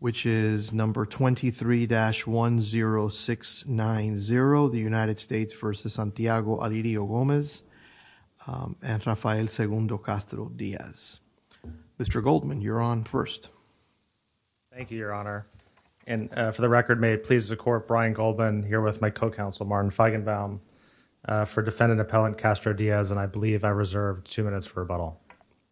which is number 23-10690 the United States v. Santiago Alirio Gomez and Rafael Segundo Castro Diaz. Mr. Goldman you're on first. Thank you your honor and for the record may it please the court Brian Goldman here with my co-counsel Martin Feigenbaum for defendant appellant Castro Diaz and I believe I reserved two minutes for rebuttal.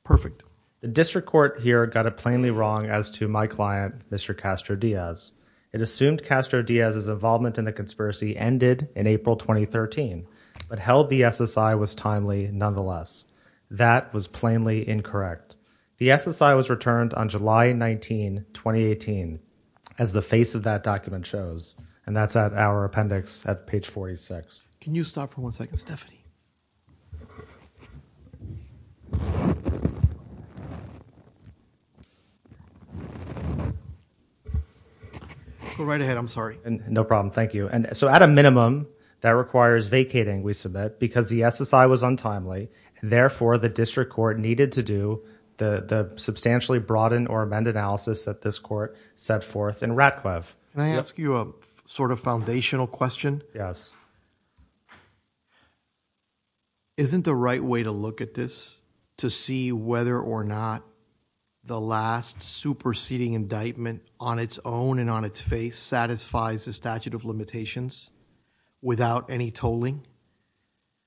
Perfect. The district court here got it plainly wrong as to my client Mr. Castro Diaz. It assumed Castro Diaz's involvement in the conspiracy ended in April 2013 but held the SSI was timely nonetheless. That was plainly incorrect. The SSI was returned on July 19, 2018 as the face of that document shows and that's at our appendix at page 46. Can you stop for one second Stephanie? Go right ahead I'm sorry. No problem thank you and so at a minimum that requires vacating we submit because the SSI was untimely therefore the district court needed to do the the substantially broadened or amended analysis that this court set forth in Can I ask you a sort of foundational question? Yes. Isn't the right way to look at this to see whether or not the last superseding indictment on its own and on its face satisfies the statute of limitations without any tolling?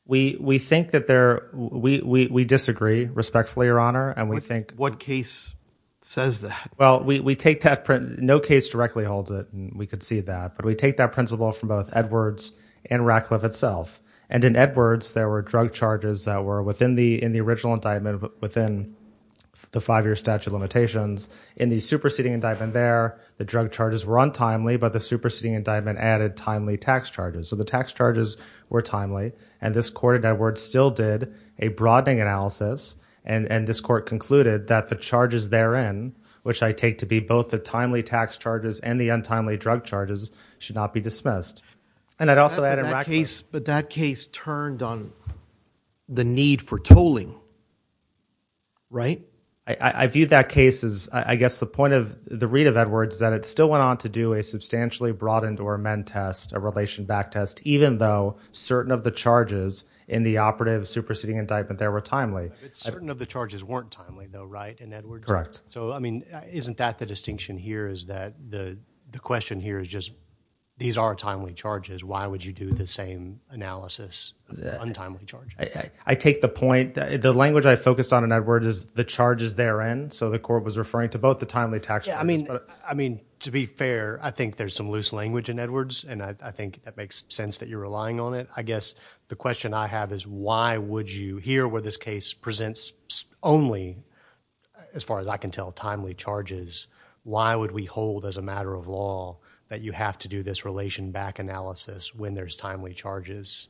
We we think that there we we we disagree respectfully your honor and we think. What case says that? Well we we take that print no case directly holds it and we could see that but we take that principle from both Edwards and Ratcliffe itself and in Edwards there were drug charges that were within the in the original indictment within the five-year statute of limitations in the superseding indictment there the drug charges were untimely but the superseding indictment added timely tax charges so the tax charges were timely and this court Edward still did a broadening analysis and and this court concluded that the charges therein which I take to be both the timely tax charges and the untimely drug charges should not be dismissed and I'd also add in that case but that case turned on the need for tolling right I I viewed that case as I guess the point of the read of Edwards that it still went on to do a substantially broadened or amend test a relation back test even though certain of the charges in the operative superseding indictment there were timely it's certain of the charges weren't timely though right and Edward correct so I mean isn't that the distinction here is that the the question here is just these are timely charges why would you do the same analysis untimely charge I I take the point that the language I focused on in Edwards is the charges therein so the court was referring to both the Edwards and I think that makes sense that you're relying on it I guess the question I have is why would you hear where this case presents only as far as I can tell timely charges why would we hold as a matter of law that you have to do this relation back analysis when there's timely charges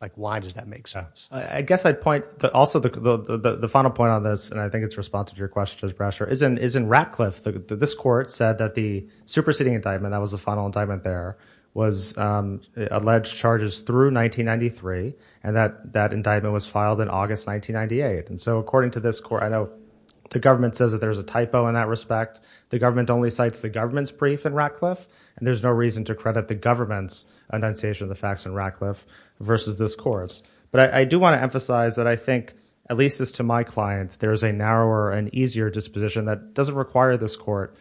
like why does that make sense I guess I'd point that also the the final point on this and I think it's responsive to your question Judge Brasher is in is in Ratcliffe the this court said that the superseding indictment that was the final indictment there was um alleged charges through 1993 and that that indictment was filed in August 1998 and so according to this court I know the government says that there's a typo in that respect the government only cites the government's brief in Ratcliffe and there's no reason to credit the government's annunciation of the facts in Ratcliffe versus this course but I do want to emphasize that I think at least as to my client there is a narrower and easier disposition that doesn't require this court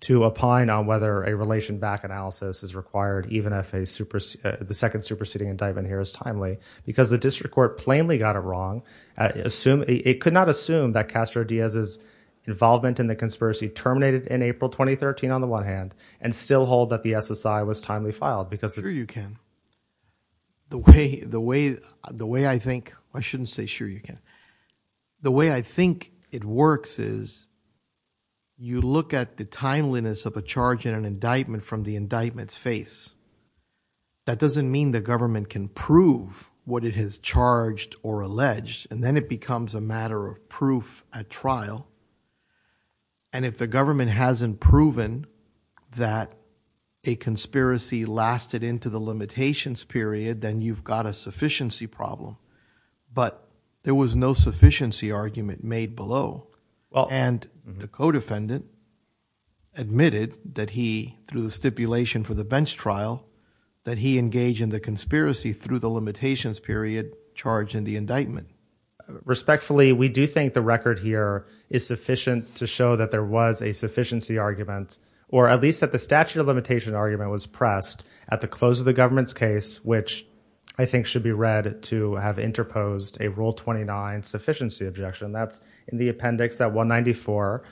to opine on whether a relation back analysis is required even if a supers the second superseding indictment here is timely because the district court plainly got it wrong assume it could not assume that Castro Diaz's involvement in the conspiracy terminated in April 2013 on the one hand and still hold that the SSI was timely filed because sure you can the way the way the way I think I shouldn't say sure you can the way I think it works is you look at the timeliness of a charge in an indictment from the indictments face that doesn't mean the government can prove what it has charged or alleged and then it becomes a matter of proof at trial and if the government hasn't proven that a conspiracy lasted into the limitations period then you've got a sufficiency problem but there was no sufficiency argument made below and the co-defendant admitted that he through the stipulation for the bench trial that he engaged in the conspiracy through the limitations period charged in the indictment respectfully we do think the record here is sufficient to show that there was a sufficiency argument or at least that the statute of limitation argument was pressed at the close of the government's case which I think should be read to have interposed a rule 29 sufficiency objection that's in the appendix at 194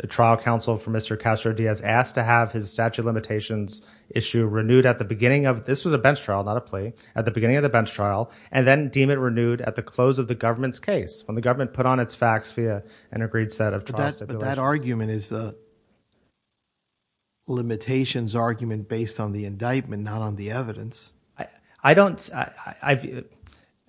the trial counsel for Mr. Castro Diaz asked to have his statute limitations issue renewed at the beginning of this was a bench trial not a plea at the beginning of the bench trial and then deem it renewed at the close of the government's case when the government put on its facts via an agreed set of that argument is a limitations argument based on the indictment not on the I don't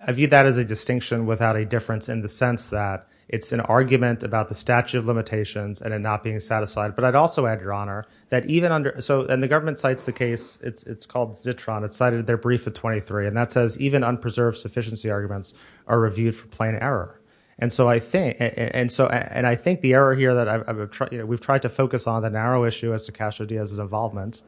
I view that as a distinction without a difference in the sense that it's an argument about the statute of limitations and it not being satisfied but I'd also add your honor that even under so and the government cites the case it's it's called zitron it's cited their brief of 23 and that says even unpreserved sufficiency arguments are reviewed for plain error and so I think and so and I think the error here that I've tried you know we've tried to focus on the narrow issue as to Castro Diaz's involvement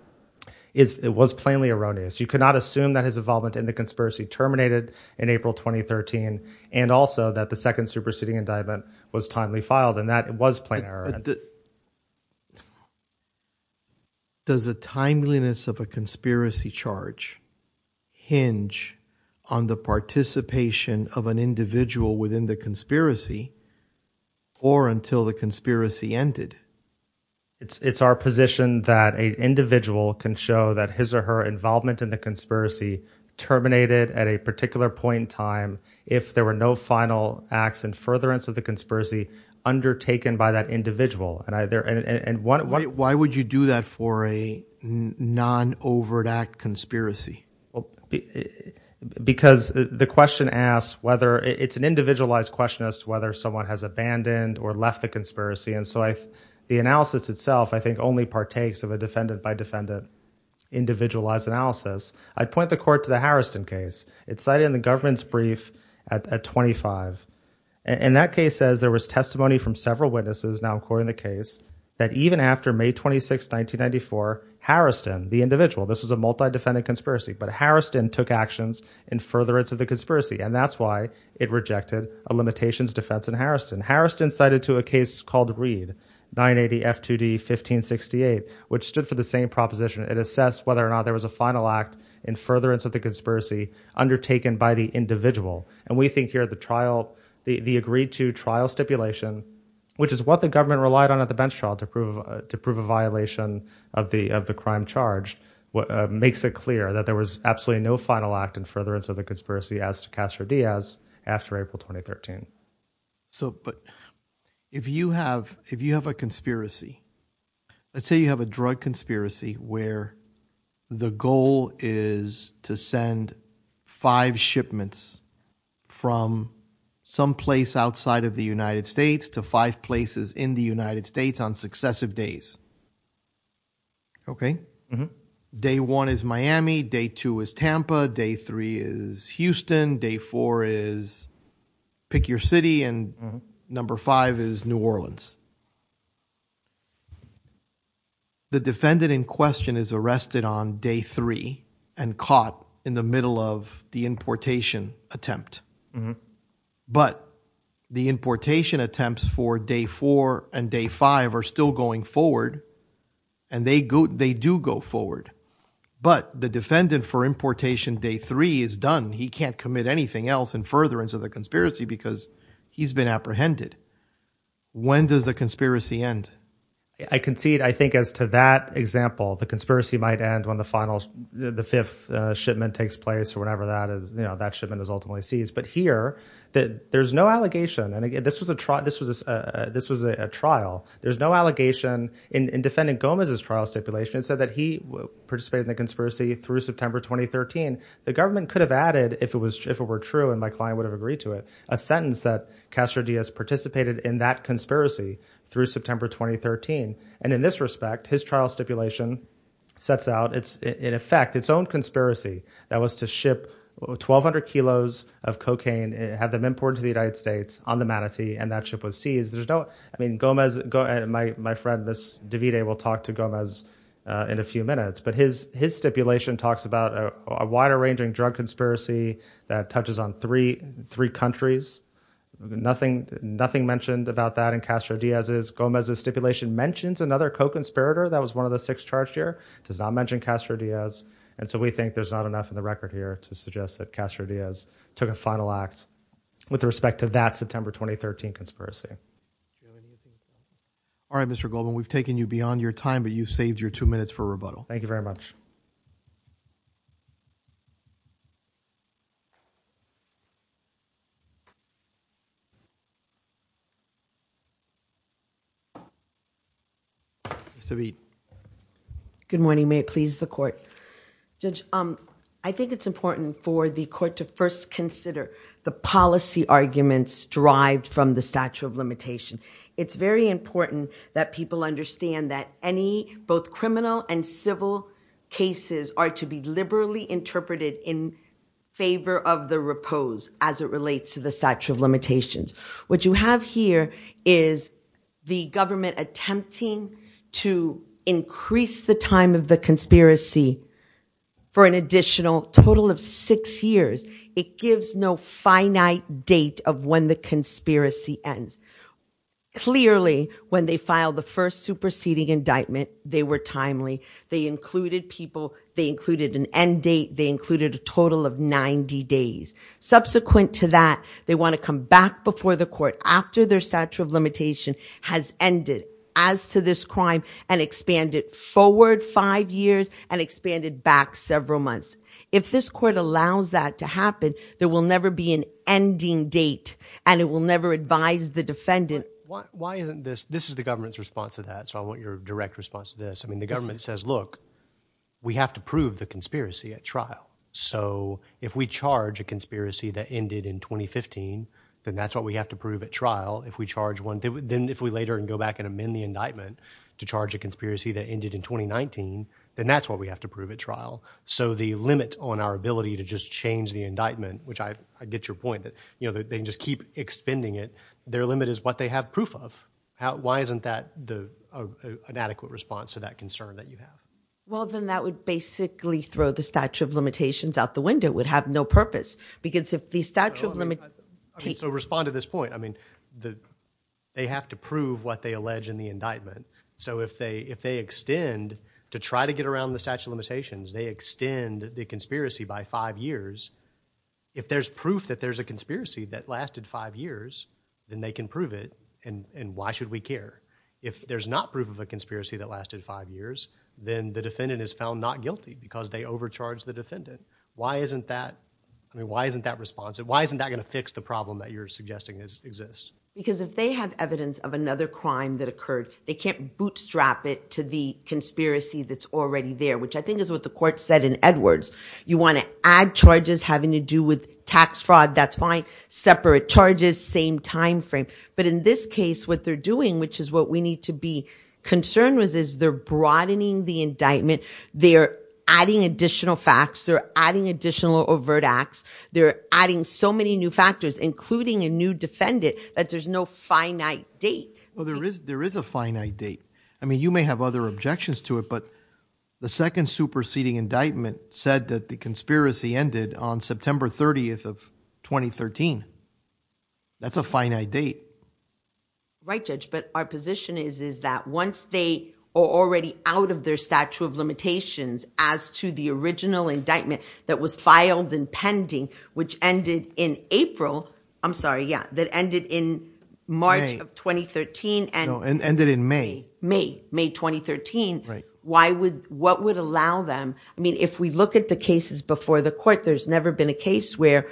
is it was plainly erroneous you cannot assume that his involvement in the conspiracy terminated in April 2013 and also that the second superseding indictment was timely filed and that it was plain error does the timeliness of a conspiracy charge hinge on the participation of an individual within the conspiracy or until the conspiracy ended it's it's our position that a individual can show that his or her involvement in the conspiracy terminated at a particular point in time if there were no final acts and furtherance of the conspiracy undertaken by that individual and either and one why would you do that for a non-overt act conspiracy well because the question asks whether it's an individual or whether someone has abandoned or left the conspiracy and so I the analysis itself I think only partakes of a defendant by defendant individualized analysis I'd point the court to the Harrison case it's cited in the government's brief at 25 and that case says there was testimony from several witnesses now according the case that even after May 26 1994 Harrison the individual this is a multi-defendant conspiracy but Harrison took actions in furtherance of the conspiracy and that's why it rejected a limitations defense in Harrison Harrison cited to a case called read 980 f2d 1568 which stood for the same proposition it assessed whether or not there was a final act in furtherance of the conspiracy undertaken by the individual and we think here the trial the agreed to trial stipulation which is what the government relied on at the bench trial to prove to prove a violation of the of the crime charged what makes it clear that there was absolutely no final act in furtherance of the conspiracy as to Castro Diaz after April 2013 so but if you have if you have a conspiracy let's say you have a drug conspiracy where the goal is to send five shipments from some place outside of the United States to five places in the United States on successive days okay day one is Miami day two is Tampa day three is Houston day four is pick your city and number five is New Orleans the defendant in question is arrested on day three and caught in the middle of the importation attempt but the importation attempts for day four and day five are still going forward and they go they do go forward but the defendant for importation day three is done he can't commit anything else in furtherance of the conspiracy because he's been apprehended when does the conspiracy end I concede I think as to that example the conspiracy might end when the final the fifth shipment takes place or whatever that is you know that shipment is ultimately seized but here that there's no allegation and again this was a trial this was a this was a trial there's no allegation in defendant Gomez's trial stipulation it said that he participated in the conspiracy through September 2013 the government could have added if it was if it were true and my client would have agreed to it a sentence that Castro Diaz participated in that conspiracy through September 2013 and in this respect his trial stipulation sets out it's in effect its own conspiracy that was to ship 1,200 kilos of cocaine and have them imported to the United and that ship was seized there's no I mean Gomez go ahead my friend this Davide will talk to Gomez in a few minutes but his his stipulation talks about a wider ranging drug conspiracy that touches on three three countries nothing nothing mentioned about that in Castro Diaz is Gomez's stipulation mentions another co-conspirator that was one of the six charged here does not mention Castro Diaz and so we think there's not enough in the record here to suggest that Castro Diaz took a final act with respect to that September 2013 conspiracy all right Mr. Goldman we've taken you beyond your time but you've saved your two minutes for rebuttal thank you very much Mr. Beat good morning may it please the court judge um I think it's important for the court to first consider the policy arguments derived from the statute of limitation it's very important that people understand that any both criminal and civil cases are to be liberally interpreted in favor of the repose as it relates to the statute of limitations what you have here is the government it gives no finite date of when the conspiracy ends clearly when they filed the first superseding indictment they were timely they included people they included an end date they included a total of 90 days subsequent to that they want to come back before the court after their statute of limitation has ended as to this crime and expanded forward five years and expanded back several months if this court allows that to happen there will never be an ending date and it will never advise the defendant why isn't this this is the government's response to that so I want your direct response to this I mean the government says look we have to prove the conspiracy at trial so if we charge a conspiracy that ended in 2015 then that's what we have to prove at trial if we charge one then if we later and go back and amend the indictment to charge a conspiracy that ended in 2019 then that's what we have to prove at trial so the limit on our ability to just change the indictment which I get your point that you know that they just keep expending it their limit is what they have proof of how why isn't that the inadequate response to that concern that you have well then that would basically throw the statute of limitations out the window would have no purpose because if the statute of limit so respond to this point I mean the they have to prove what they allege in the indictment so if they if they extend to try to get around the statute limitations they extend the conspiracy by five years if there's proof that there's a conspiracy that lasted five years then they can prove it and and why should we care if there's not proof of a conspiracy that lasted five years then the defendant is found not guilty because they overcharge the defendant why isn't that I mean why isn't that responsive why isn't that going to fix the problem that you're suggesting is exists because if they have evidence of another crime that occurred they can't bootstrap it to the conspiracy that's already there which I think is what the court said in Edwards you want to add charges having to do with tax fraud that's fine separate charges same time frame but in this case what they're doing which is what we need to be concerned with is they're broadening the indictment they're adding additional facts they're adding additional overt acts they're adding so many new factors including a new defendant that there's no finite date well there is there is a finite date I mean you may have other objections to it but the second superseding indictment said that the conspiracy ended on September 30th of 2013 that's a finite date right judge but our position is is that once they are already out of their statute of limitations as to the original indictment that was filed and pending which ended in April I'm sorry yeah that ended in March of 2013 and ended in May May May 2013 right why would what would allow them I mean if we look at the cases before the court there's never been a case where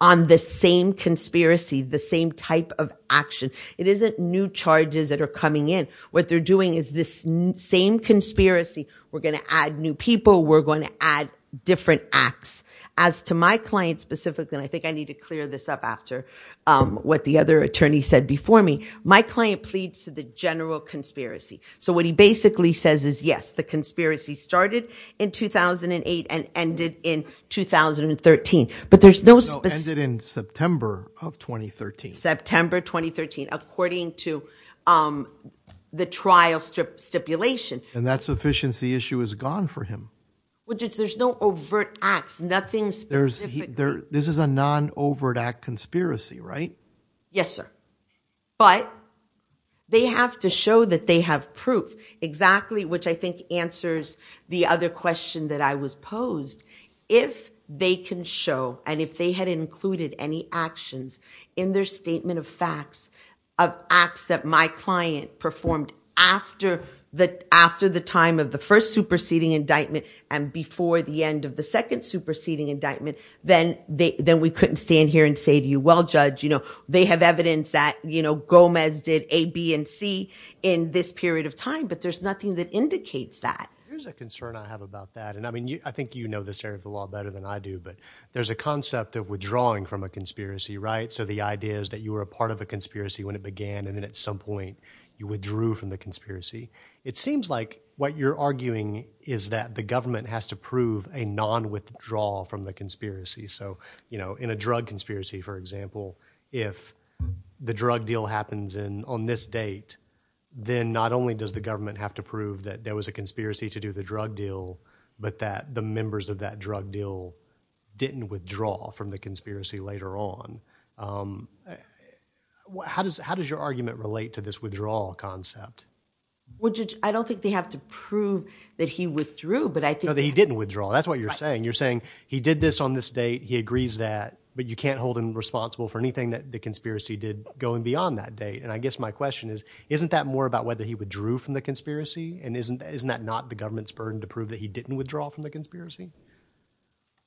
on the same conspiracy the same type of action it isn't new charges that are coming in what they're doing is this same conspiracy we're going to add new people we're going to add different acts as to my client specifically I think I need to clear this up after what the other attorney said before me my client pleads to the general conspiracy so what he basically says is yes the conspiracy started in 2008 and ended in 2013 but there's no ended in September of 2013 September 2013 according to um the trial strip stipulation and that sufficiency issue is gone for him well there's no overt acts nothing specific there this is a non-overt act conspiracy right yes sir but they have to show that they have proof exactly which I think answers the other question that I was posed if they can show and if they had included any actions in their statement of facts of acts that my client performed after the after the time of the first superseding indictment and before the end of the second superseding indictment then they then we couldn't stand here and say to you well judge you know they have evidence that you know Gomez did a b and c in this period of time but there's nothing that indicates that there's a concern I have about that and I mean you I think you know this area of the law better than I do but there's a concept of withdrawing from a conspiracy right so the idea is that you were a part of a conspiracy when it began and then at some point you withdrew from the conspiracy it seems like what you're arguing is that the government has to prove a non-withdrawal from the conspiracy so you know in a drug conspiracy for example if the drug deal happens in on this date then not only does the government have to prove that there was a conspiracy to do the drug deal but that the members of that drug deal didn't withdraw from the conspiracy later on how does how does your argument relate to this withdrawal concept well I don't think they have to prove that he withdrew but I think that he didn't withdraw that's what you're saying you're saying he did this on this date he agrees that but you can't hold him responsible for anything that the conspiracy did going beyond that date and I guess my question is isn't that more about whether he withdrew from the conspiracy and isn't isn't that not the government's burden to prove that he didn't withdraw from the conspiracy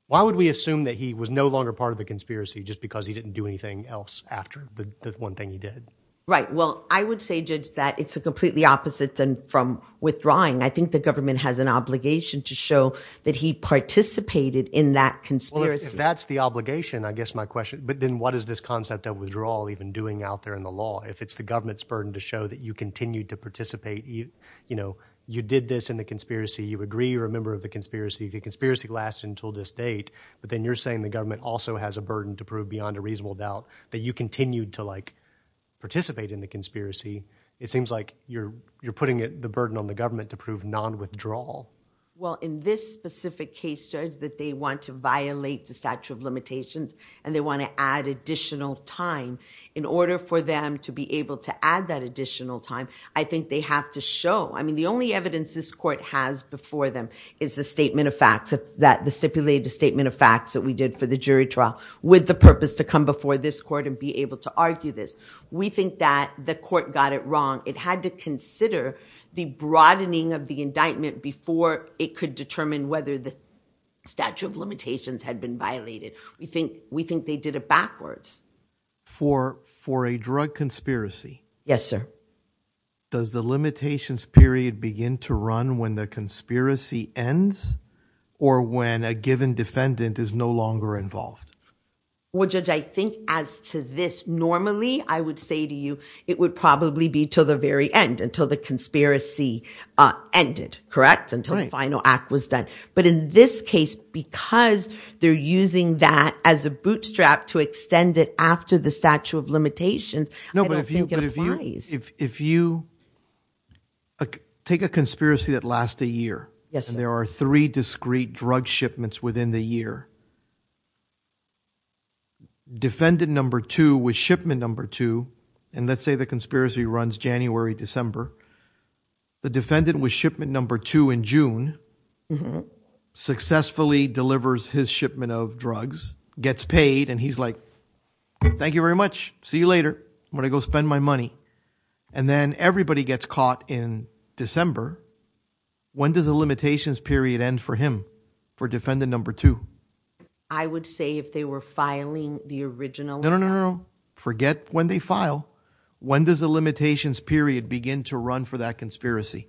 why would we assume that he was no longer part of the conspiracy just because he didn't do anything else after the one thing he did right well I would say judge that it's a completely opposite than from withdrawing I think the government has an obligation to show that he participated in that conspiracy that's the obligation I guess my question but then what is this concept of withdrawal even doing out there in the law if it's the government's burden to show that you continued to participate you know you did this in the conspiracy you agree you're a member of the conspiracy the conspiracy lasted until this date but then you're saying the government also has a burden to prove beyond a reasonable doubt that you continued to like participate in the conspiracy it seems like you're you're putting it the burden on the government to prove non-withdrawal well in this specific case judge that they want to violate the stature of limitations and they add additional time in order for them to be able to add that additional time I think they have to show I mean the only evidence this court has before them is the statement of facts that the stipulated statement of facts that we did for the jury trial with the purpose to come before this court and be able to argue this we think that the court got it wrong it had to consider the broadening of the indictment before it could determine whether the statute of limitations had been violated we think we think they did it backwards for for a drug conspiracy yes sir does the limitations period begin to run when the conspiracy ends or when a given defendant is no longer involved well judge I think as to this normally I would say to you it would probably be to the very end until the conspiracy uh ended correct until the final act was done but in this because they're using that as a bootstrap to extend it after the statute of limitations no but if you but if you if you take a conspiracy that lasts a year yes there are three discrete drug shipments within the year defendant number two was shipment number two and let's say the conspiracy runs January December the defendant was shipment number two in June mm-hmm successfully delivers his shipment of drugs gets paid and he's like thank you very much see you later I'm gonna go spend my money and then everybody gets caught in December when does the limitations period end for him for defendant number two I would say if they were filing the original no no no forget when they file when does the limitations period begin to run for that conspiracy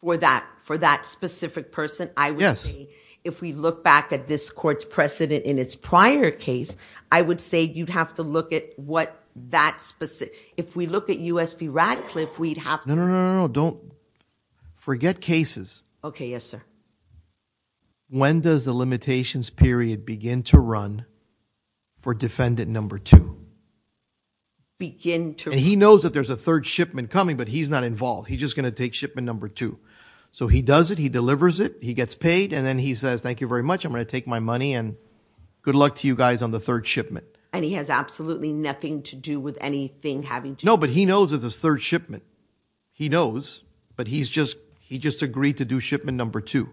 for that for that specific person I would say if we look back at this court's precedent in its prior case I would say you'd have to look at what that specific if we look at usb radcliffe we'd have no no don't forget cases okay yes sir when does the limitations period begin to run for defendant number two begin to he knows that there's a third shipment coming but he's not involved he's just going to take shipment number two so he does it he delivers it he gets paid and then he says thank you very much I'm going to take my money and good luck to you guys on the third shipment and he has absolutely nothing to do with anything having to no but he knows it's his third shipment he knows but he's just he just agreed to do shipment number two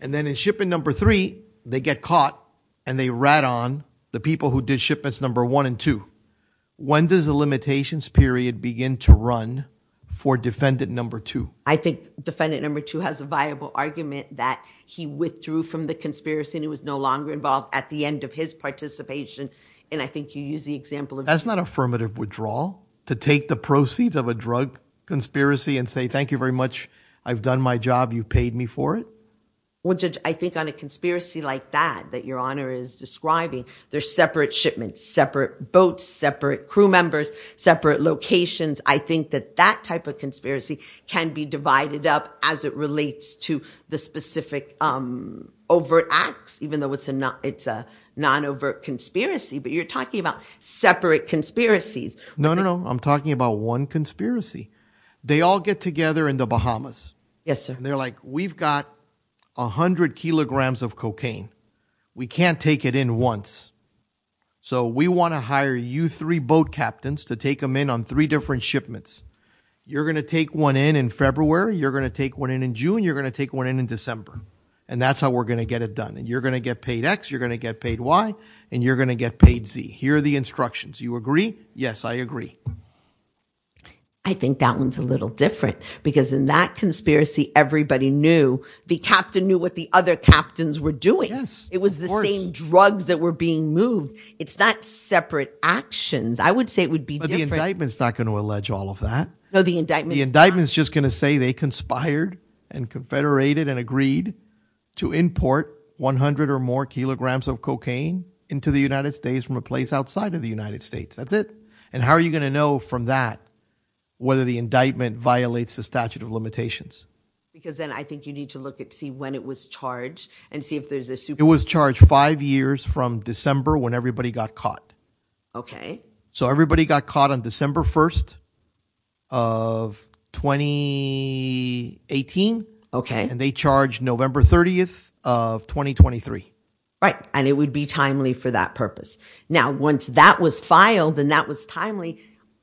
and then in shipping number three they get caught and they rat on the people who did shipments number one and two when does the limitations period begin to run for defendant number two I think defendant number two has a viable argument that he withdrew from the conspiracy and he was no longer involved at the end of his participation and I think you use the example of that's not affirmative withdrawal to take the proceeds of a drug conspiracy and say thank you very much I've done my job you paid me for it well judge I think on a conspiracy like that that your honor is describing there's separate shipments separate boats separate crew members separate locations I think that that type of conspiracy can be divided up as it relates to the specific um overt acts even though it's a not it's a non-overt conspiracy but you're talking about separate conspiracies no no I'm talking about one conspiracy they all get together in the Bahamas yes sir they're like we've got 100 kilograms of cocaine we can't take it in once so we want to hire you three boat captains to take them in on three different shipments you're going to take one in in February you're going to take one in in June you're going to take one in in December and that's how we're going to get it done and you're going to get paid x you're going to get paid y and you're going to get paid z here are the instructions you agree yes I agree I think that one's a little different because in that conspiracy everybody knew the captain knew what the other captains were doing yes it was the same drugs that were being moved it's not separate actions I would say it would be different the indictment's not going to allege all of that no the indictment the indictment's just going to say they conspired and confederated and agreed to import 100 or more kilograms of cocaine into the United States from a place outside of the United States that's it and how are you going to know from that whether the indictment violates the statute of limitations because then I think you need to look at see when it was charged and see if there's a super it was charged five years from December when everybody got caught okay so everybody got caught on December 1st of 2018 okay and they charged November 30th of 2023 right and it would be timely for that now once that was filed and that was timely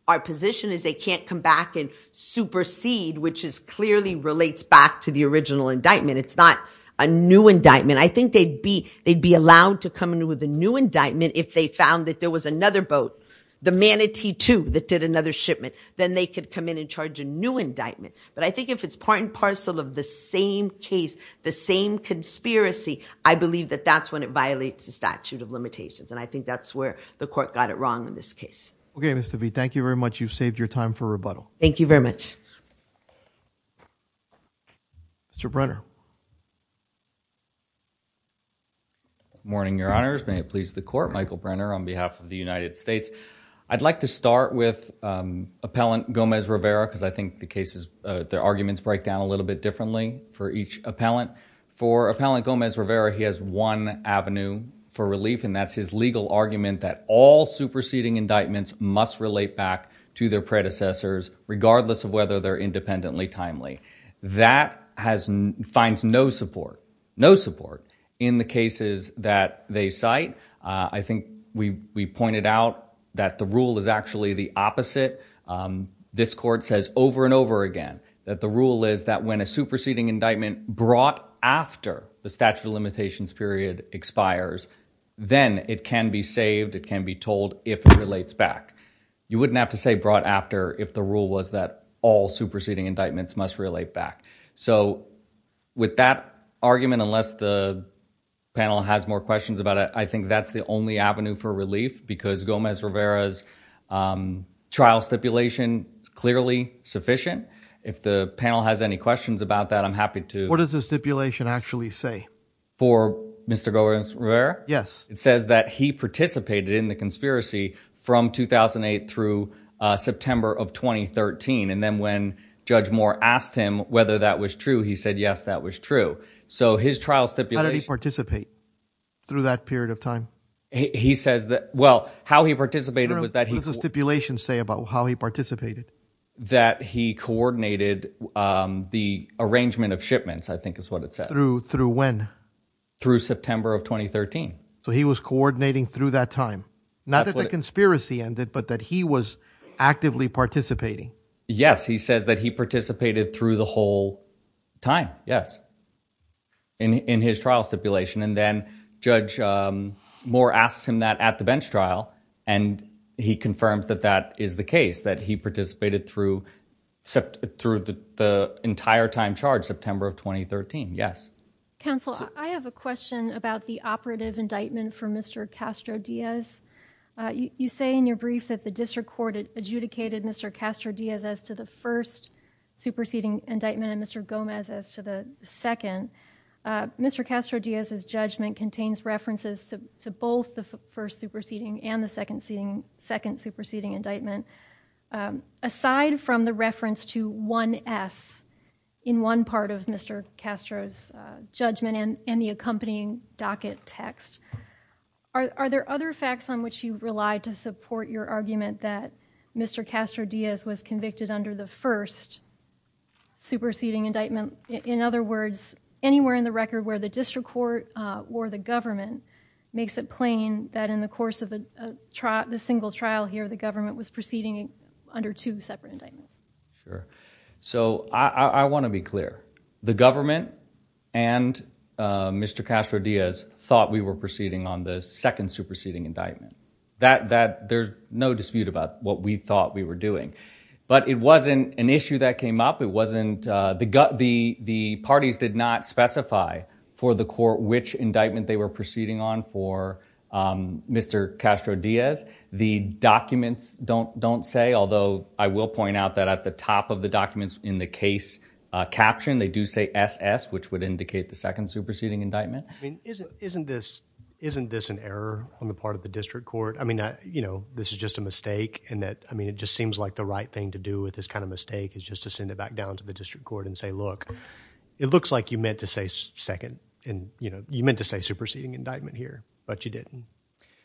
our position is they can't come back and supersede which is clearly relates back to the original indictment it's not a new indictment I think they'd be they'd be allowed to come in with a new indictment if they found that there was another boat the manatee too that did another shipment then they could come in and charge a new indictment but I think if it's part and parcel of the same case the same conspiracy I believe that that's it violates the statute of limitations and I think that's where the court got it wrong in this case okay Mr. V thank you very much you've saved your time for rebuttal thank you very much Mr. Brenner morning your honors may it please the court Michael Brenner on behalf of the United States I'd like to start with um appellant Gomez Rivera because I think the case is uh their arguments break down a little bit differently for each appellant for appellant Gomez Rivera he has one avenue for relief and that's his legal argument that all superseding indictments must relate back to their predecessors regardless of whether they're independently timely that has finds no support no support in the cases that they cite I think we we pointed out that the rule is actually the opposite um this court says over and over again that the rule is that when a superseding indictment brought after the statute of limitations period expires then it can be saved it can be told if it relates back you wouldn't have to say brought after if the rule was that all superseding indictments must relate back so with that argument unless the panel has more questions about it I think that's the only avenue for relief because Gomez Rivera's um trial stipulation clearly sufficient if the panel has any questions about that I'm happy to what does the stipulation actually say for Mr. Gomez Rivera yes it says that he participated in the conspiracy from 2008 through uh September of 2013 and then when Judge Moore asked him whether that was true he said yes that was true so his trial stipulation participate through that period of time he says that well how he participated was that he was a stipulation say about how he participated that he coordinated um the arrangement of shipments I think is what it says through through when through September of 2013 so he was coordinating through that time not that the conspiracy ended but that he was actively participating yes he says that he participated through the whole time yes in in his trial stipulation and then Judge um Moore asks him that at the bench trial and he confirms that that is the case that he participated through through the entire time charge September of 2013 yes counsel I have a question about the operative indictment for Mr. Castro Diaz uh you say in your brief that the district court adjudicated Mr. Castro Diaz as to the first superseding indictment and Mr. Gomez as to the second Mr. Castro Diaz's judgment contains references to both the first superseding and the second seating second superseding indictment aside from the reference to 1s in one part of Mr. Castro's judgment and and the accompanying docket text are there other facts on which you rely to support your argument that Mr. Castro Diaz was convicted under the first superseding indictment in other words anywhere in the record where the district court uh or the government makes it plain that in the course of the trial the single trial here the government was proceeding under two separate indictments sure so I I want to be clear the government and uh Mr. Castro Diaz thought we were proceeding on the second superseding indictment that that there's no dispute about what we thought we were doing but it wasn't an issue that came up it wasn't uh the gut the parties did not specify for the court which indictment they were proceeding on for um Mr. Castro Diaz the documents don't don't say although I will point out that at the top of the documents in the case uh caption they do say ss which would indicate the second superseding indictment I mean isn't isn't this isn't this an error on the part of the district court I mean I you know this is just a mistake and that I mean it just seems like the right thing to do with this kind of mistake is just to send it back down to the district court and say look it looks like you meant to say second and you know you meant to say superseding indictment here but you didn't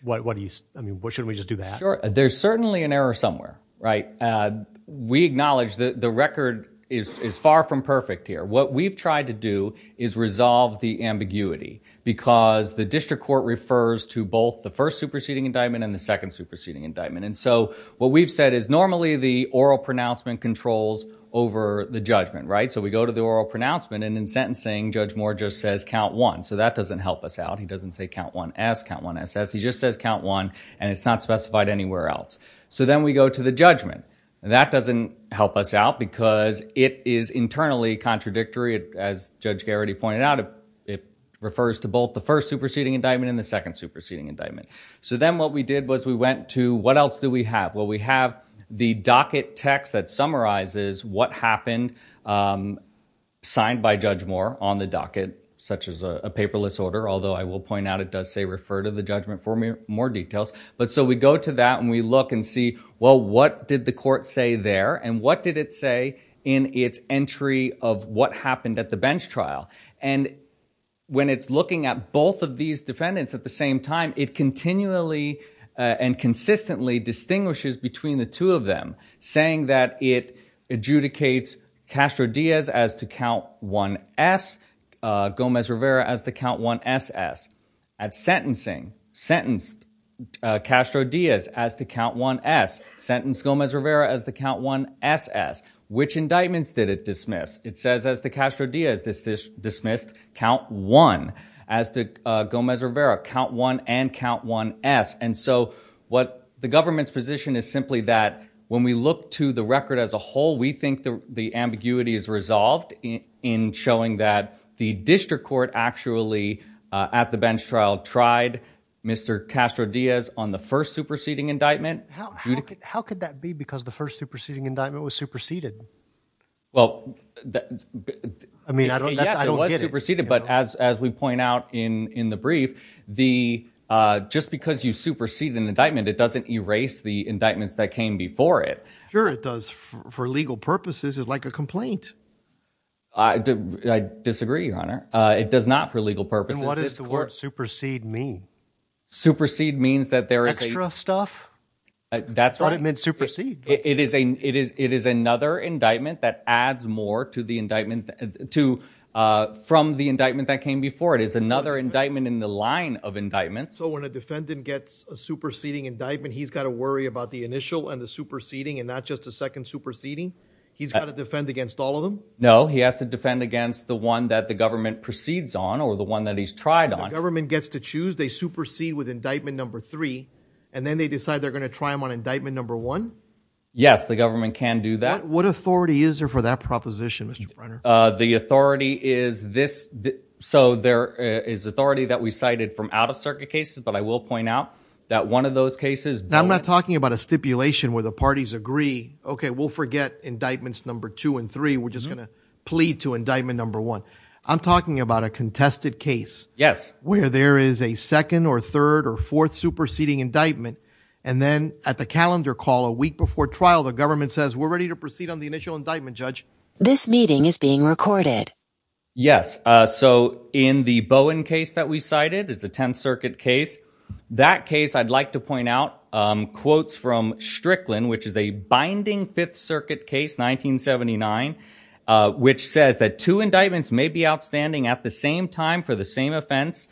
what what do you I mean what shouldn't we just do that sure there's certainly an error somewhere right uh we acknowledge that the record is is far from perfect here what we've tried to do is resolve the ambiguity because the district court refers to both the first superseding indictment and the second superseding indictment and so what we've said is normally the oral pronouncement controls over the judgment right so we go to the oral pronouncement and in sentencing Judge Moore just says count one so that doesn't help us out he doesn't say count one s count one ss he just says count one and it's not specified anywhere else so then we go to the judgment and that doesn't help us out because it is internally contradictory as Judge Garrity pointed out it it refers to both the first superseding indictment and the second superseding indictment so then what we did was we went to what else do we have well we have the docket text that summarizes what happened um signed by Judge Moore on the docket such as a paperless order although I will point out it does say refer to the judgment for me more details but so we go to that and we look and see well what did the court say there and what did it say in its entry of what happened at the bench trial and when it's looking at both of these defendants at the same time it continually and consistently distinguishes between the two of them saying that it adjudicates Castro Diaz as to count one s uh Gomez Rivera as the count one ss at sentencing sentenced uh Castro Diaz as to count one s sentenced Gomez Rivera as the count one ss which indictments did it dismiss it says as Castro Diaz dismissed count one as to Gomez Rivera count one and count one s and so what the government's position is simply that when we look to the record as a whole we think the ambiguity is resolved in showing that the district court actually at the bench trial tried Mr. Castro Diaz on the first superseding indictment how could that be because the first superseding indictment was superseded well I mean I don't I don't get it superseded but as as we point out in in the brief the uh just because you supersede an indictment it doesn't erase the indictments that came before it sure it does for legal purposes is like a complaint I do I disagree your honor uh it does not for legal purposes what does the word supersede mean supersede means that there is extra stuff that's what it meant supersede it is a it is it is another indictment that adds more to the indictment to uh from the indictment that came before it is another indictment in the line of indictments so when a defendant gets a superseding indictment he's got to worry about the initial and the superseding and not just a second superseding he's got to defend against all of them no he has to defend against the one that the government proceeds on or the one that he's tried on government gets to choose they supersede with indictment number three and then they decide they're going to try them on indictment number one yes the government can do that what authority is there for that proposition uh the authority is this so there is authority that we cited from out-of-circuit cases but I will point out that one of those cases I'm not talking about a stipulation where the parties agree okay we'll forget indictments number two and three we're just plead to indictment number one I'm talking about a contested case yes where there is a second or third or fourth superseding indictment and then at the calendar call a week before trial the government says we're ready to proceed on the initial indictment judge this meeting is being recorded yes uh so in the bowen case that we cited is a 10th circuit case that case I'd like to point out um quotes from strickland which is a binding fifth circuit case 1979 uh which says that two indictments may be outstanding at the same time for the same offense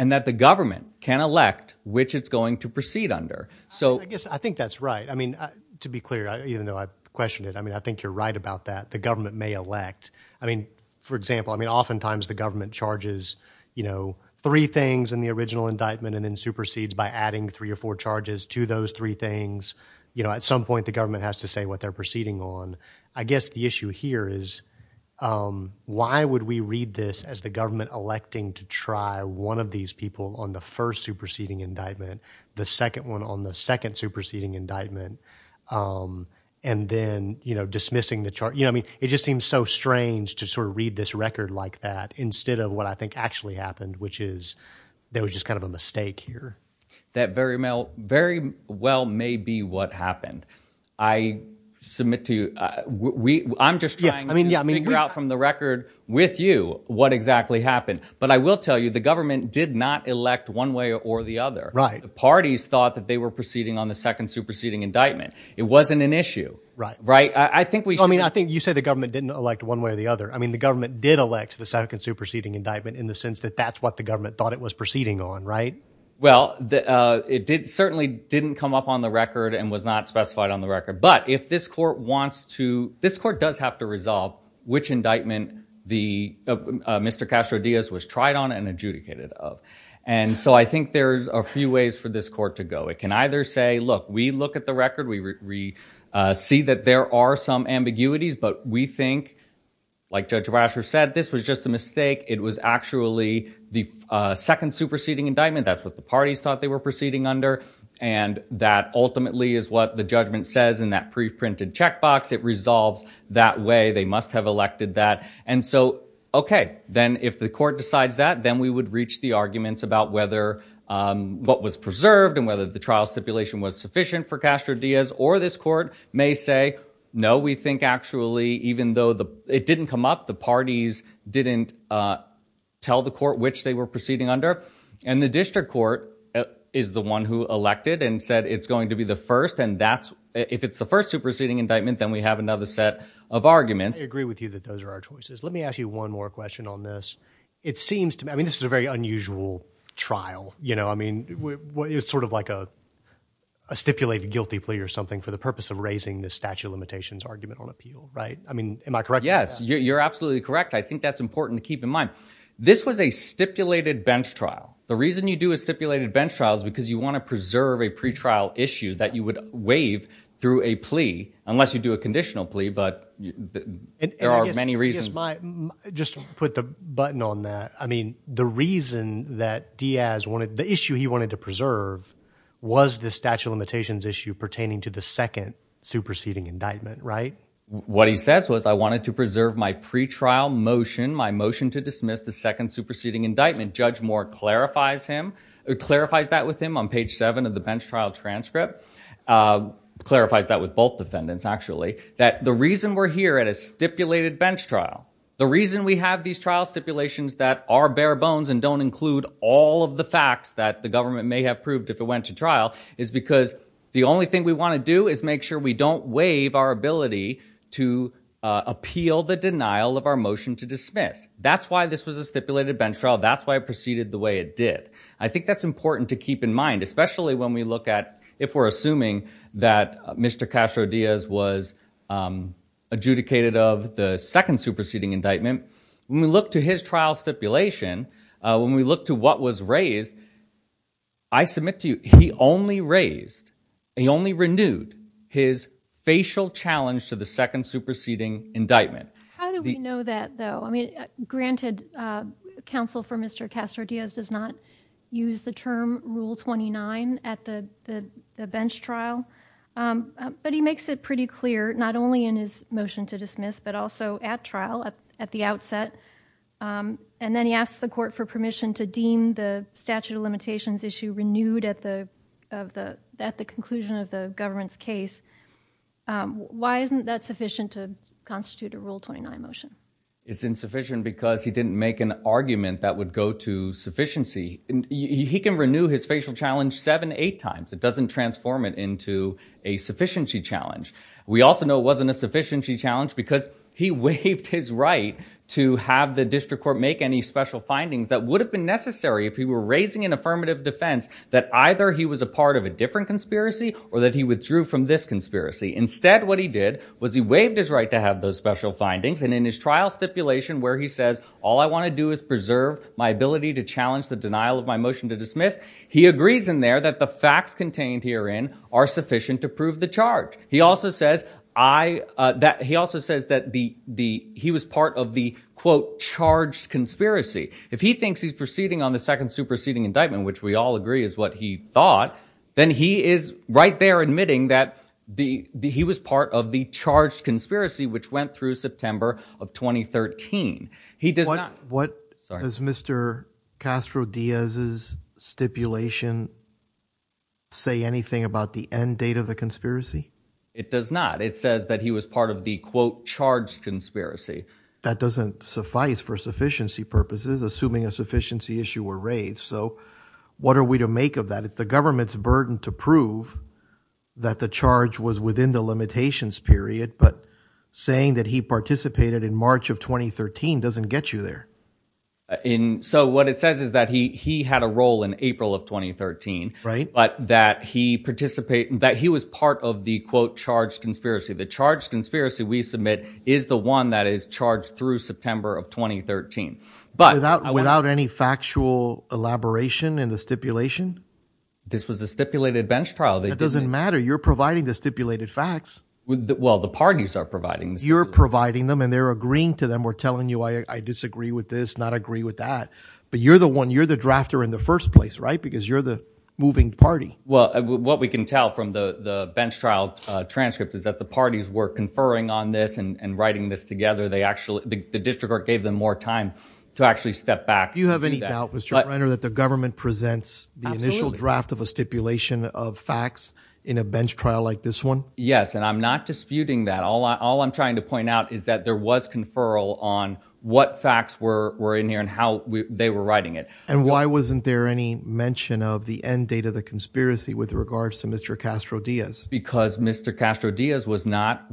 and that the government can elect which it's going to proceed under so I guess I think that's right I mean to be clear even though I questioned it I mean I think you're right about that the government may elect I mean for example I mean oftentimes the government charges you know three things in the original indictment and then supersedes by adding three or four charges to those three things you know at some point the government has to say what they're proceeding on I guess the issue here is um why would we read this as the government electing to try one of these people on the first superseding indictment the second one on the second superseding indictment um and then you know dismissing the chart you know I mean it just seems so strange to sort of read this record like that instead of what I think actually happened which is there was just kind of a mistake here that very male very well may be what happened I submit to you we I'm just trying I mean yeah I mean figure out from the record with you what exactly happened but I will tell you the government did not elect one way or the other right the parties thought that they were proceeding on the second superseding indictment it wasn't an issue right right I think we I mean I think you say the government didn't elect one way or the other I mean the government did elect the second superseding indictment in the sense that that's what the government thought it was proceeding on right well uh it did certainly didn't come up on the record and was not specified on the record but if this court wants to this court does have to resolve which indictment the Mr. Castro Diaz was tried on and adjudicated of and so I think there's a few ways for this court to go it can either say look we look at the record we see that there are some ambiguities but we think like Judge Rasher said this was just a mistake it was actually the second superseding indictment that's what the parties thought they were proceeding under and that ultimately is what the judgment says in that pre-printed check box it resolves that way they must have elected that and so okay then if the court decides that then we would reach the arguments about whether what was preserved and whether the trial stipulation was sufficient for Castro Diaz or this court may say no we think actually even though the it didn't come up the parties didn't uh tell the court which they were proceeding under and the district court is the one who elected and said it's going to be the first and that's if it's the first superseding indictment then we have another set of arguments I agree with you that those are our choices let me ask you one more question on this it seems to me I mean this is a very unusual trial you know I mean what is sort of like a a stipulated guilty plea or something for the purpose of raising the statute of limitations argument on appeal right I mean am I correct yes you're absolutely correct I think that's important to keep in mind this was a stipulated bench trial the reason you do a stipulated bench trial is because you want to preserve a pre-trial issue that you would waive through a plea unless you do a conditional plea but there are many reasons just put the button on that I mean the reason that Diaz wanted the issue he wanted to preserve was the statute of limitations issue pertaining to the second superseding indictment right what he says was I wanted to preserve my pre-trial motion my motion to dismiss the second superseding indictment judge more clarifies him it clarifies that with him on page seven of the bench trial transcript clarifies that with both defendants actually that the reason we're here at a stipulated bench trial the reason we have these trial stipulations that are bare bones and don't include all of the facts that the government may have proved if it went to trial is because the only thing we want to do is make sure we don't waive our ability to appeal the denial of our motion to dismiss that's why this was a stipulated bench trial that's why it proceeded the way it did I think that's important to keep in mind especially when we look at if we're assuming that Mr. Castro Diaz was adjudicated of the second superseding indictment when we look to his trial stipulation when we look to what was raised I submit to you he only raised he only renewed his facial challenge to the second superseding indictment how do we know that though granted counsel for Mr. Castro Diaz does not use the term rule 29 at the the bench trial but he makes it pretty clear not only in his motion to dismiss but also at trial at the outset and then he asks the court for permission to deem the statute of limitations issue renewed at the of the at the conclusion of the government's case why isn't that sufficient to constitute a rule 29 it's insufficient because he didn't make an argument that would go to sufficiency he can renew his facial challenge seven eight times it doesn't transform it into a sufficiency challenge we also know it wasn't a sufficiency challenge because he waived his right to have the district court make any special findings that would have been necessary if he were raising an affirmative defense that either he was a part of a different conspiracy or that he withdrew from this conspiracy instead what he did was he waived his right to have those special findings and in his trial stipulation where he says all I want to do is preserve my ability to challenge the denial of my motion to dismiss he agrees in there that the facts contained herein are sufficient to prove the charge he also says I uh that he also says that the the he was part of the quote charged conspiracy if he thinks he's proceeding on the second superseding indictment which we all agree is he thought then he is right there admitting that the the he was part of the charged conspiracy which went through September of 2013 he does not what does Mr Castro Diaz's stipulation say anything about the end date of the conspiracy it does not it says that he was part of the quote charged conspiracy that doesn't suffice for sufficiency purposes assuming a sufficiency issue were raised so what are we to make of that it's the government's burden to prove that the charge was within the limitations period but saying that he participated in March of 2013 doesn't get you there in so what it says is that he he had a role in April of 2013 right but that he participated that he was part of the quote charged conspiracy the charged conspiracy we submit is the one that is charged through September of 2013 but without without any factual elaboration in the stipulation this was a stipulated bench trial that doesn't matter you're providing the stipulated facts well the parties are providing you're providing them and they're agreeing to them we're telling you I disagree with this not agree with that but you're the one you're the drafter in the first place right because you're the moving party well what we can tell from the the bench trial uh transcript is that the parties were conferring on this and writing this together they actually the district court gave them more time to actually step back you have any doubt Mr. Brenner that the government presents the initial draft of a stipulation of facts in a bench trial like this one yes and I'm not disputing that all I all I'm trying to point out is that there was conferral on what facts were were in here and how they were writing it and why wasn't there any mention of the end date of the conspiracy with regards to Mr. Castro Diaz because Mr. Castro Diaz was not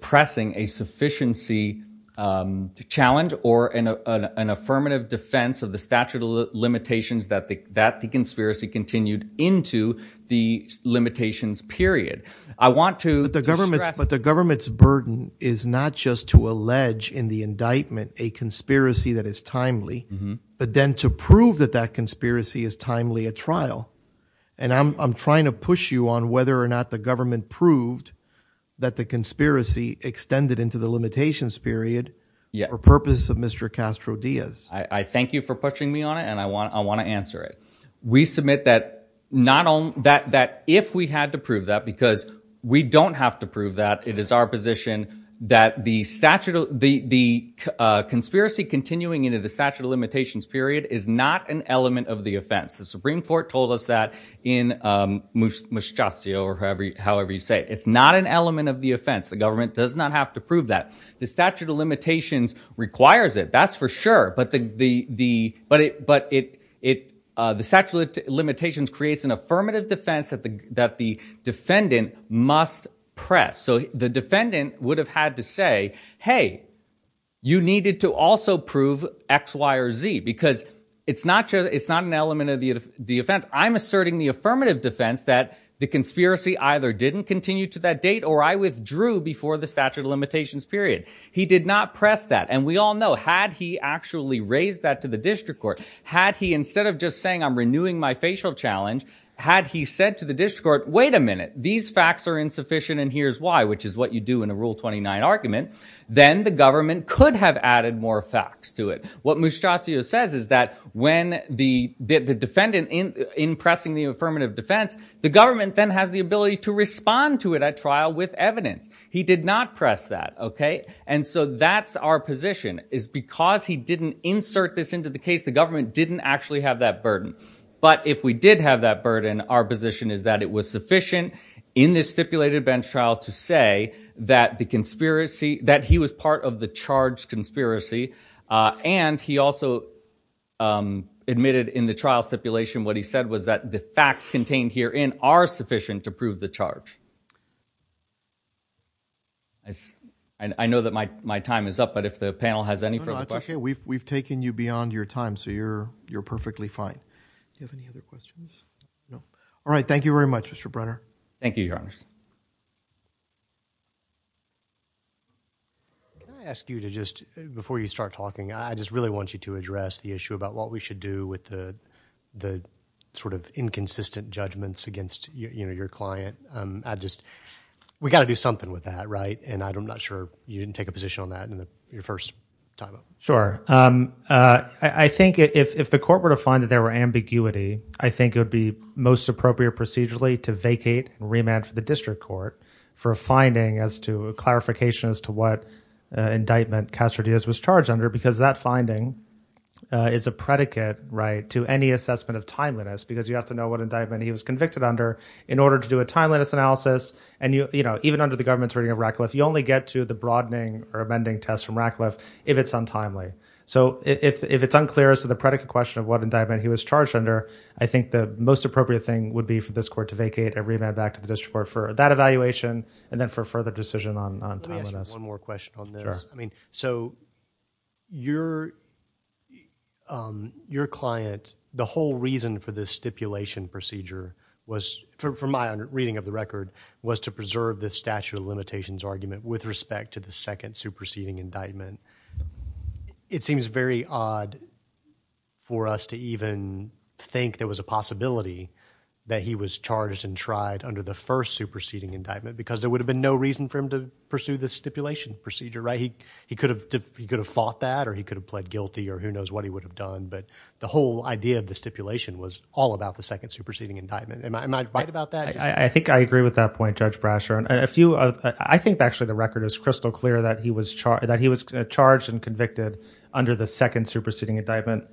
pressing a sufficiency um challenge or in an affirmative defense of the statute of limitations that the that the conspiracy continued into the limitations period I want to the government but the government's burden is not just to allege in the indictment a conspiracy that is timely but then to prove that that conspiracy is timely at trial and I'm trying to push you on whether or not the government proved that the conspiracy extended into the period yeah for purpose of Mr. Castro Diaz I I thank you for pushing me on it and I want I want to answer it we submit that not on that that if we had to prove that because we don't have to prove that it is our position that the statute of the the uh conspiracy continuing into the statute of limitations period is not an element of the offense the supreme court told us that in um however you say it's not an element of the offense the government does not have to prove that the statute of limitations requires it that's for sure but the the the but it but it it uh the statute of limitations creates an affirmative defense that the that the defendant must press so the defendant would have had to say hey you needed to also prove x y or z because it's not just it's not an element of the the offense I'm asserting the affirmative defense that the conspiracy either didn't continue to that date or I withdrew before the statute of limitations period he did not press that and we all know had he actually raised that to the district court had he instead of just saying I'm renewing my facial challenge had he said to the district court wait a minute these facts are insufficient and here's why which is what you do in a rule 29 argument then the government could have added more facts to it what mostracio says is that when the the defendant in in pressing the affirmative defense the government then has the okay and so that's our position is because he didn't insert this into the case the government didn't actually have that burden but if we did have that burden our position is that it was sufficient in this stipulated bench trial to say that the conspiracy that he was part of the charge conspiracy uh and he also um admitted in the trial stipulation what he said was that the facts and I know that my my time is up but if the panel has any further questions we've taken you beyond your time so you're you're perfectly fine do you have any other questions no all right thank you very much Mr. Brenner thank you your honor can I ask you to just before you start talking I just really want you to address the issue about what we should do with the the sort of inconsistent judgments against you know your client um I just we got to do something with that right and I'm not sure you didn't take a position on that in the your first time sure um uh I think if if the court were to find that there were ambiguity I think it would be most appropriate procedurally to vacate remand for the district court for a finding as to a clarification as to what uh indictment Castro Diaz was charged under because that finding is a predicate right to any assessment of timeliness because you have to know what and you you know even under the government's reading of Radcliffe you only get to the broadening or amending test from Radcliffe if it's untimely so if if it's unclear as to the predicate question of what indictment he was charged under I think the most appropriate thing would be for this court to vacate a remand back to the district court for that evaluation and then for further decision on timeliness one more question on this I mean so your um your client the whole reason for this stipulation procedure was for my reading of the record was to preserve the statute of limitations argument with respect to the second superseding indictment it seems very odd for us to even think there was a possibility that he was charged and tried under the first superseding indictment because there would have been no reason for him to pursue this stipulation procedure right he he could have he could have fought that or he could have pled guilty or who knows what he would have done but the whole idea of the stipulation was all about the second superseding indictment am I right about I think I agree with that point Judge Brasher and a few of I think actually the record is crystal clear that he was charged that he was charged and convicted under the second superseding indictment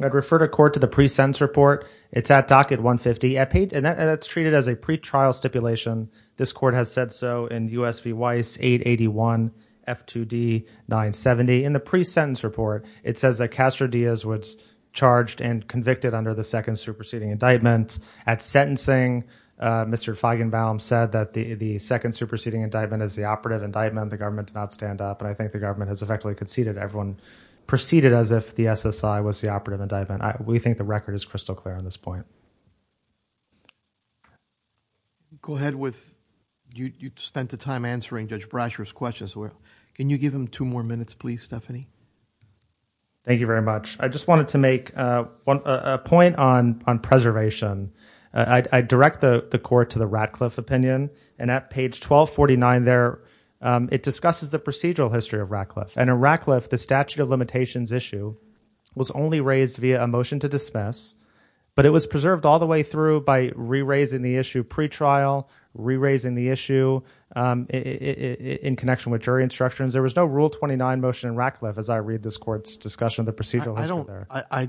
I'd refer to court to the pre-sentence report it's at docket 150 I paid and that's treated as a pre-trial stipulation this court has said so in usv weiss 881 f2d 970 in the pre-sentence report it says that Castro Diaz was charged and convicted under the second superseding indictment at sentencing uh Mr Feigenbaum said that the the second superseding indictment is the operative indictment the government did not stand up and I think the government has effectively conceded everyone proceeded as if the SSI was the operative indictment we think the record is crystal clear on this point go ahead with you you spent the time answering Judge Brasher's questions where can you give him two more minutes please Stephanie thank you very much I just wanted to make a point on on preservation I direct the court to the Ratcliffe opinion and at page 1249 there it discusses the procedural history of Ratcliffe and in Ratcliffe the statute of limitations issue was only raised via a motion to dismiss but it was preserved all the way through by re-raising the issue pre-trial re-raising the issue in connection with jury instructions there was no rule 29 motion in Ratcliffe as I read this court's discussion of the procedural I don't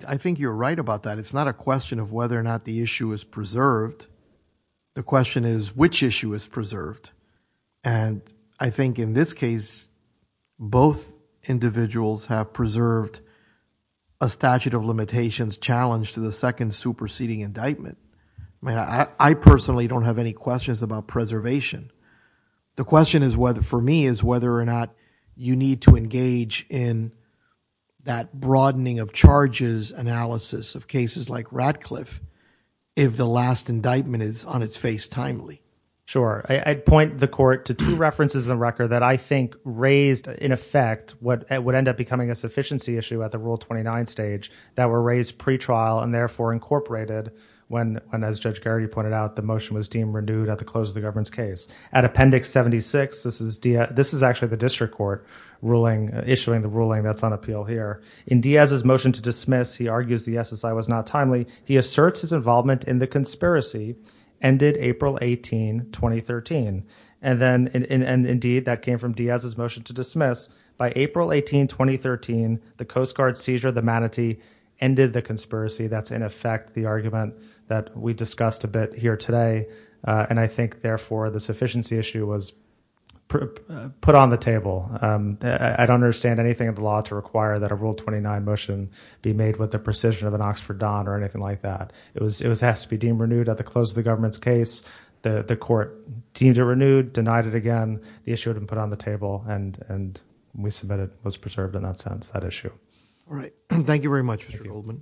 I think you're right about that it's not a question of whether or not the issue is preserved the question is which issue is preserved and I think in this case both individuals have preserved a statute of limitations challenge to the second superseding indictment I mean I personally don't have any questions about preservation the question is whether for me is whether or not you need to in that broadening of charges analysis of cases like Ratcliffe if the last indictment is on its face timely sure I'd point the court to two references in the record that I think raised in effect what it would end up becoming a sufficiency issue at the rule 29 stage that were raised pre-trial and therefore incorporated when when as Judge Garrity pointed out the motion was deemed renewed at the close of the governance case at appendix 76 this is this is actually the ruling issuing the ruling that's on appeal here in Diaz's motion to dismiss he argues the SSI was not timely he asserts his involvement in the conspiracy ended April 18 2013 and then in and indeed that came from Diaz's motion to dismiss by April 18 2013 the Coast Guard seizure the manatee ended the conspiracy that's in effect the argument that we discussed a bit here today and I think therefore the sufficiency issue was put on the table I don't understand anything of the law to require that a rule 29 motion be made with the precision of an Oxford Don or anything like that it was it was has to be deemed renewed at the close of the government's case the the court deemed it renewed denied it again the issue had been put on the table and and we submitted was preserved in that sense that issue all right thank you very much Mr. Goldman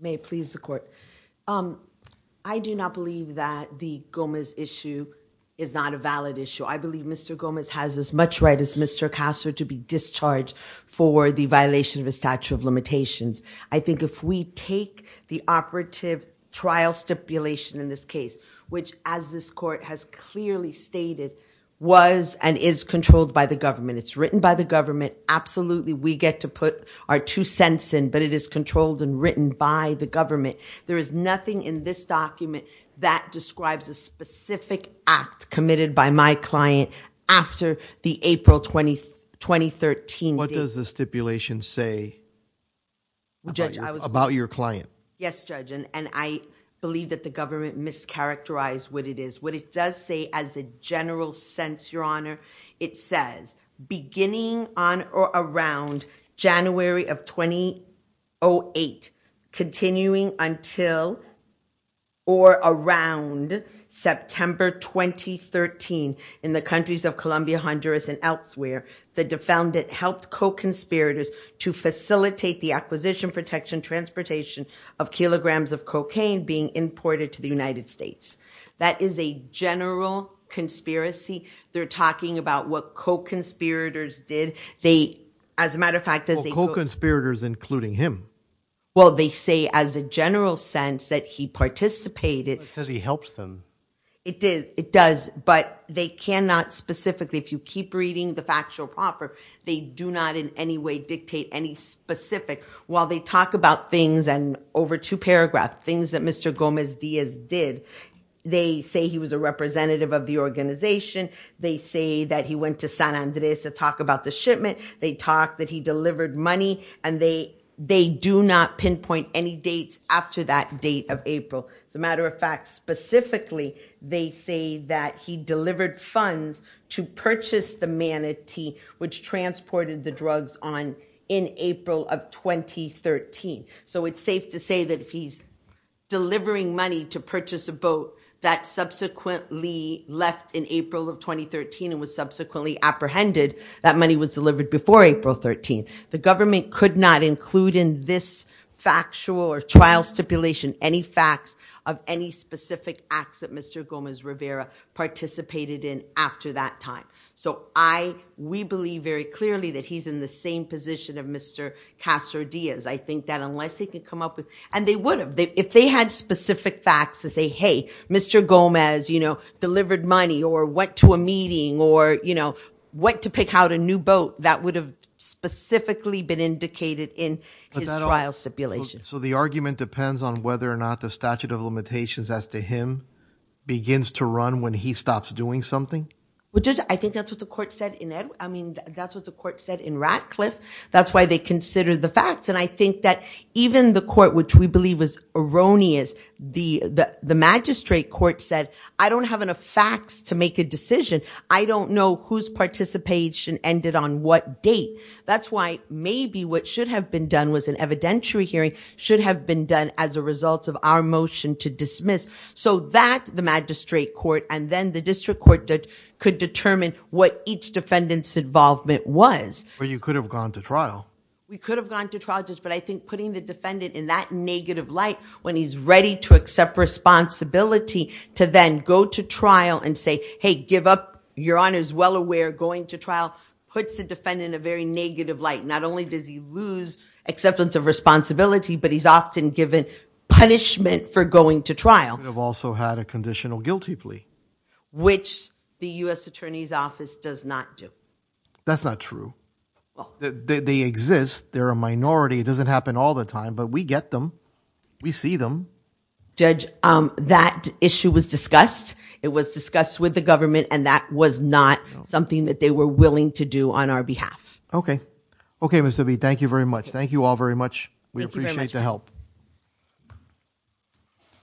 may please the court um I do not believe that the Gomez issue is not a valid issue I believe Mr. Gomez has as much right as Mr. Castor to be discharged for the violation of a statute of limitations I think if we take the operative trial stipulation in this case which as this court has clearly stated was and is controlled by the government it's written by the government absolutely we get to put our two cents in but it is controlled and written by the government there is nothing in this document that describes a specific act committed by my client after the April 20 2013 what does the stipulation say about your client yes judge and I believe that the government mischaracterized what it is what it does say as a general sense your honor it says beginning on or around January of 2008 continuing until or around September 2013 in the countries of Colombia Honduras and elsewhere the defendant helped co-conspirators to facilitate the acquisition protection transportation of kilograms of cocaine being imported to the United States that is a general conspiracy they're talking about what co-conspirators did they as a matter of fact as the co-conspirators including him well they say as a general sense that he participated says he helped them it did it does but they cannot specifically if you keep reading the factual proper they do not in any way dictate any specific while they talk about things and over two paragraph things that Mr. Gomez Diaz did they say he was a representative of the organization they say that he went to San Andres to talk about the shipment they talked that he specifically they say that he delivered funds to purchase the manatee which transported the drugs on in April of 2013 so it's safe to say that if he's delivering money to purchase a boat that subsequently left in April of 2013 and was subsequently apprehended that money was delivered before April 13th the government could not include in this factual or trial stipulation any facts of any specific acts that Mr. Gomez Rivera participated in after that time so I we believe very clearly that he's in the same position of Mr. Castro Diaz I think that unless he could come up with and they would have if they had specific facts to say hey Mr. Gomez you know delivered money or went to a meeting or you know went to pick out a new boat that would have specifically been indicated in his trial stipulation so the argument depends on whether or not the statute of limitations as to him begins to run when he stops doing something well judge I think that's what the court said in Edward I mean that's what the court said in Ratcliffe that's why they considered the facts and I think that even the court which we believe was erroneous the the magistrate court said I don't have enough facts to make a decision I don't know whose participation ended on what date that's why maybe what should have been done was an evidentiary hearing should have been done as a result of our motion to dismiss so that the magistrate court and then the district court could determine what each defendant's involvement was but you could have gone to trial we could have gone to trial just but I think putting the defendant in that negative light when he's ready to accept responsibility to then go to trial and say hey give up your honor is well aware going to trial puts the defendant in a very negative light not only does he lose acceptance of responsibility but he's often given punishment for going to trial have also had a conditional guilty plea which the U.S. attorney's office does not do that's not true they exist they're a minority it doesn't happen all the time but we get them we see them judge um that issue was discussed it was discussed with the government and that was not something that they were willing to do on our behalf okay okay Mr. B thank you very much thank you all very much we appreciate the help